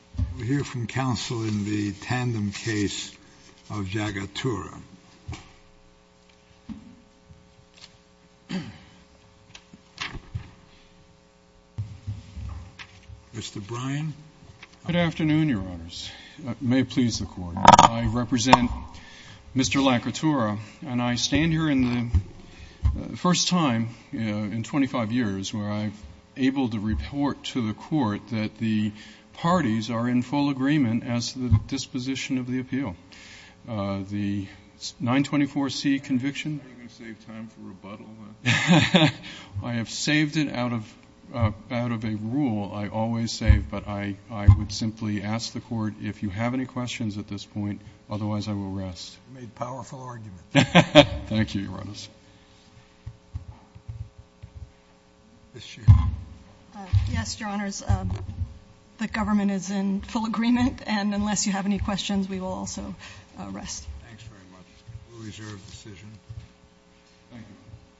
We'll hear from counsel in the tandem case of Jagotura. Mr. Bryan. Good afternoon, Your Honors. It may please the Court. I represent Mr. Lakotura, and I stand here in the first time in 25 years where I've been able to report to the Court that the parties are in full agreement as to the disposition of the appeal. The 924C conviction? Are you going to save time for rebuttal? I have saved it out of a rule I always save. But I would simply ask the Court if you have any questions at this point. Otherwise, I will rest. You made a powerful argument. Thank you, Your Honors. Ms. Sheehan. Yes, Your Honors. The government is in full agreement, and unless you have any questions, we will also rest. Thanks very much. We'll reserve the decision. Thank you.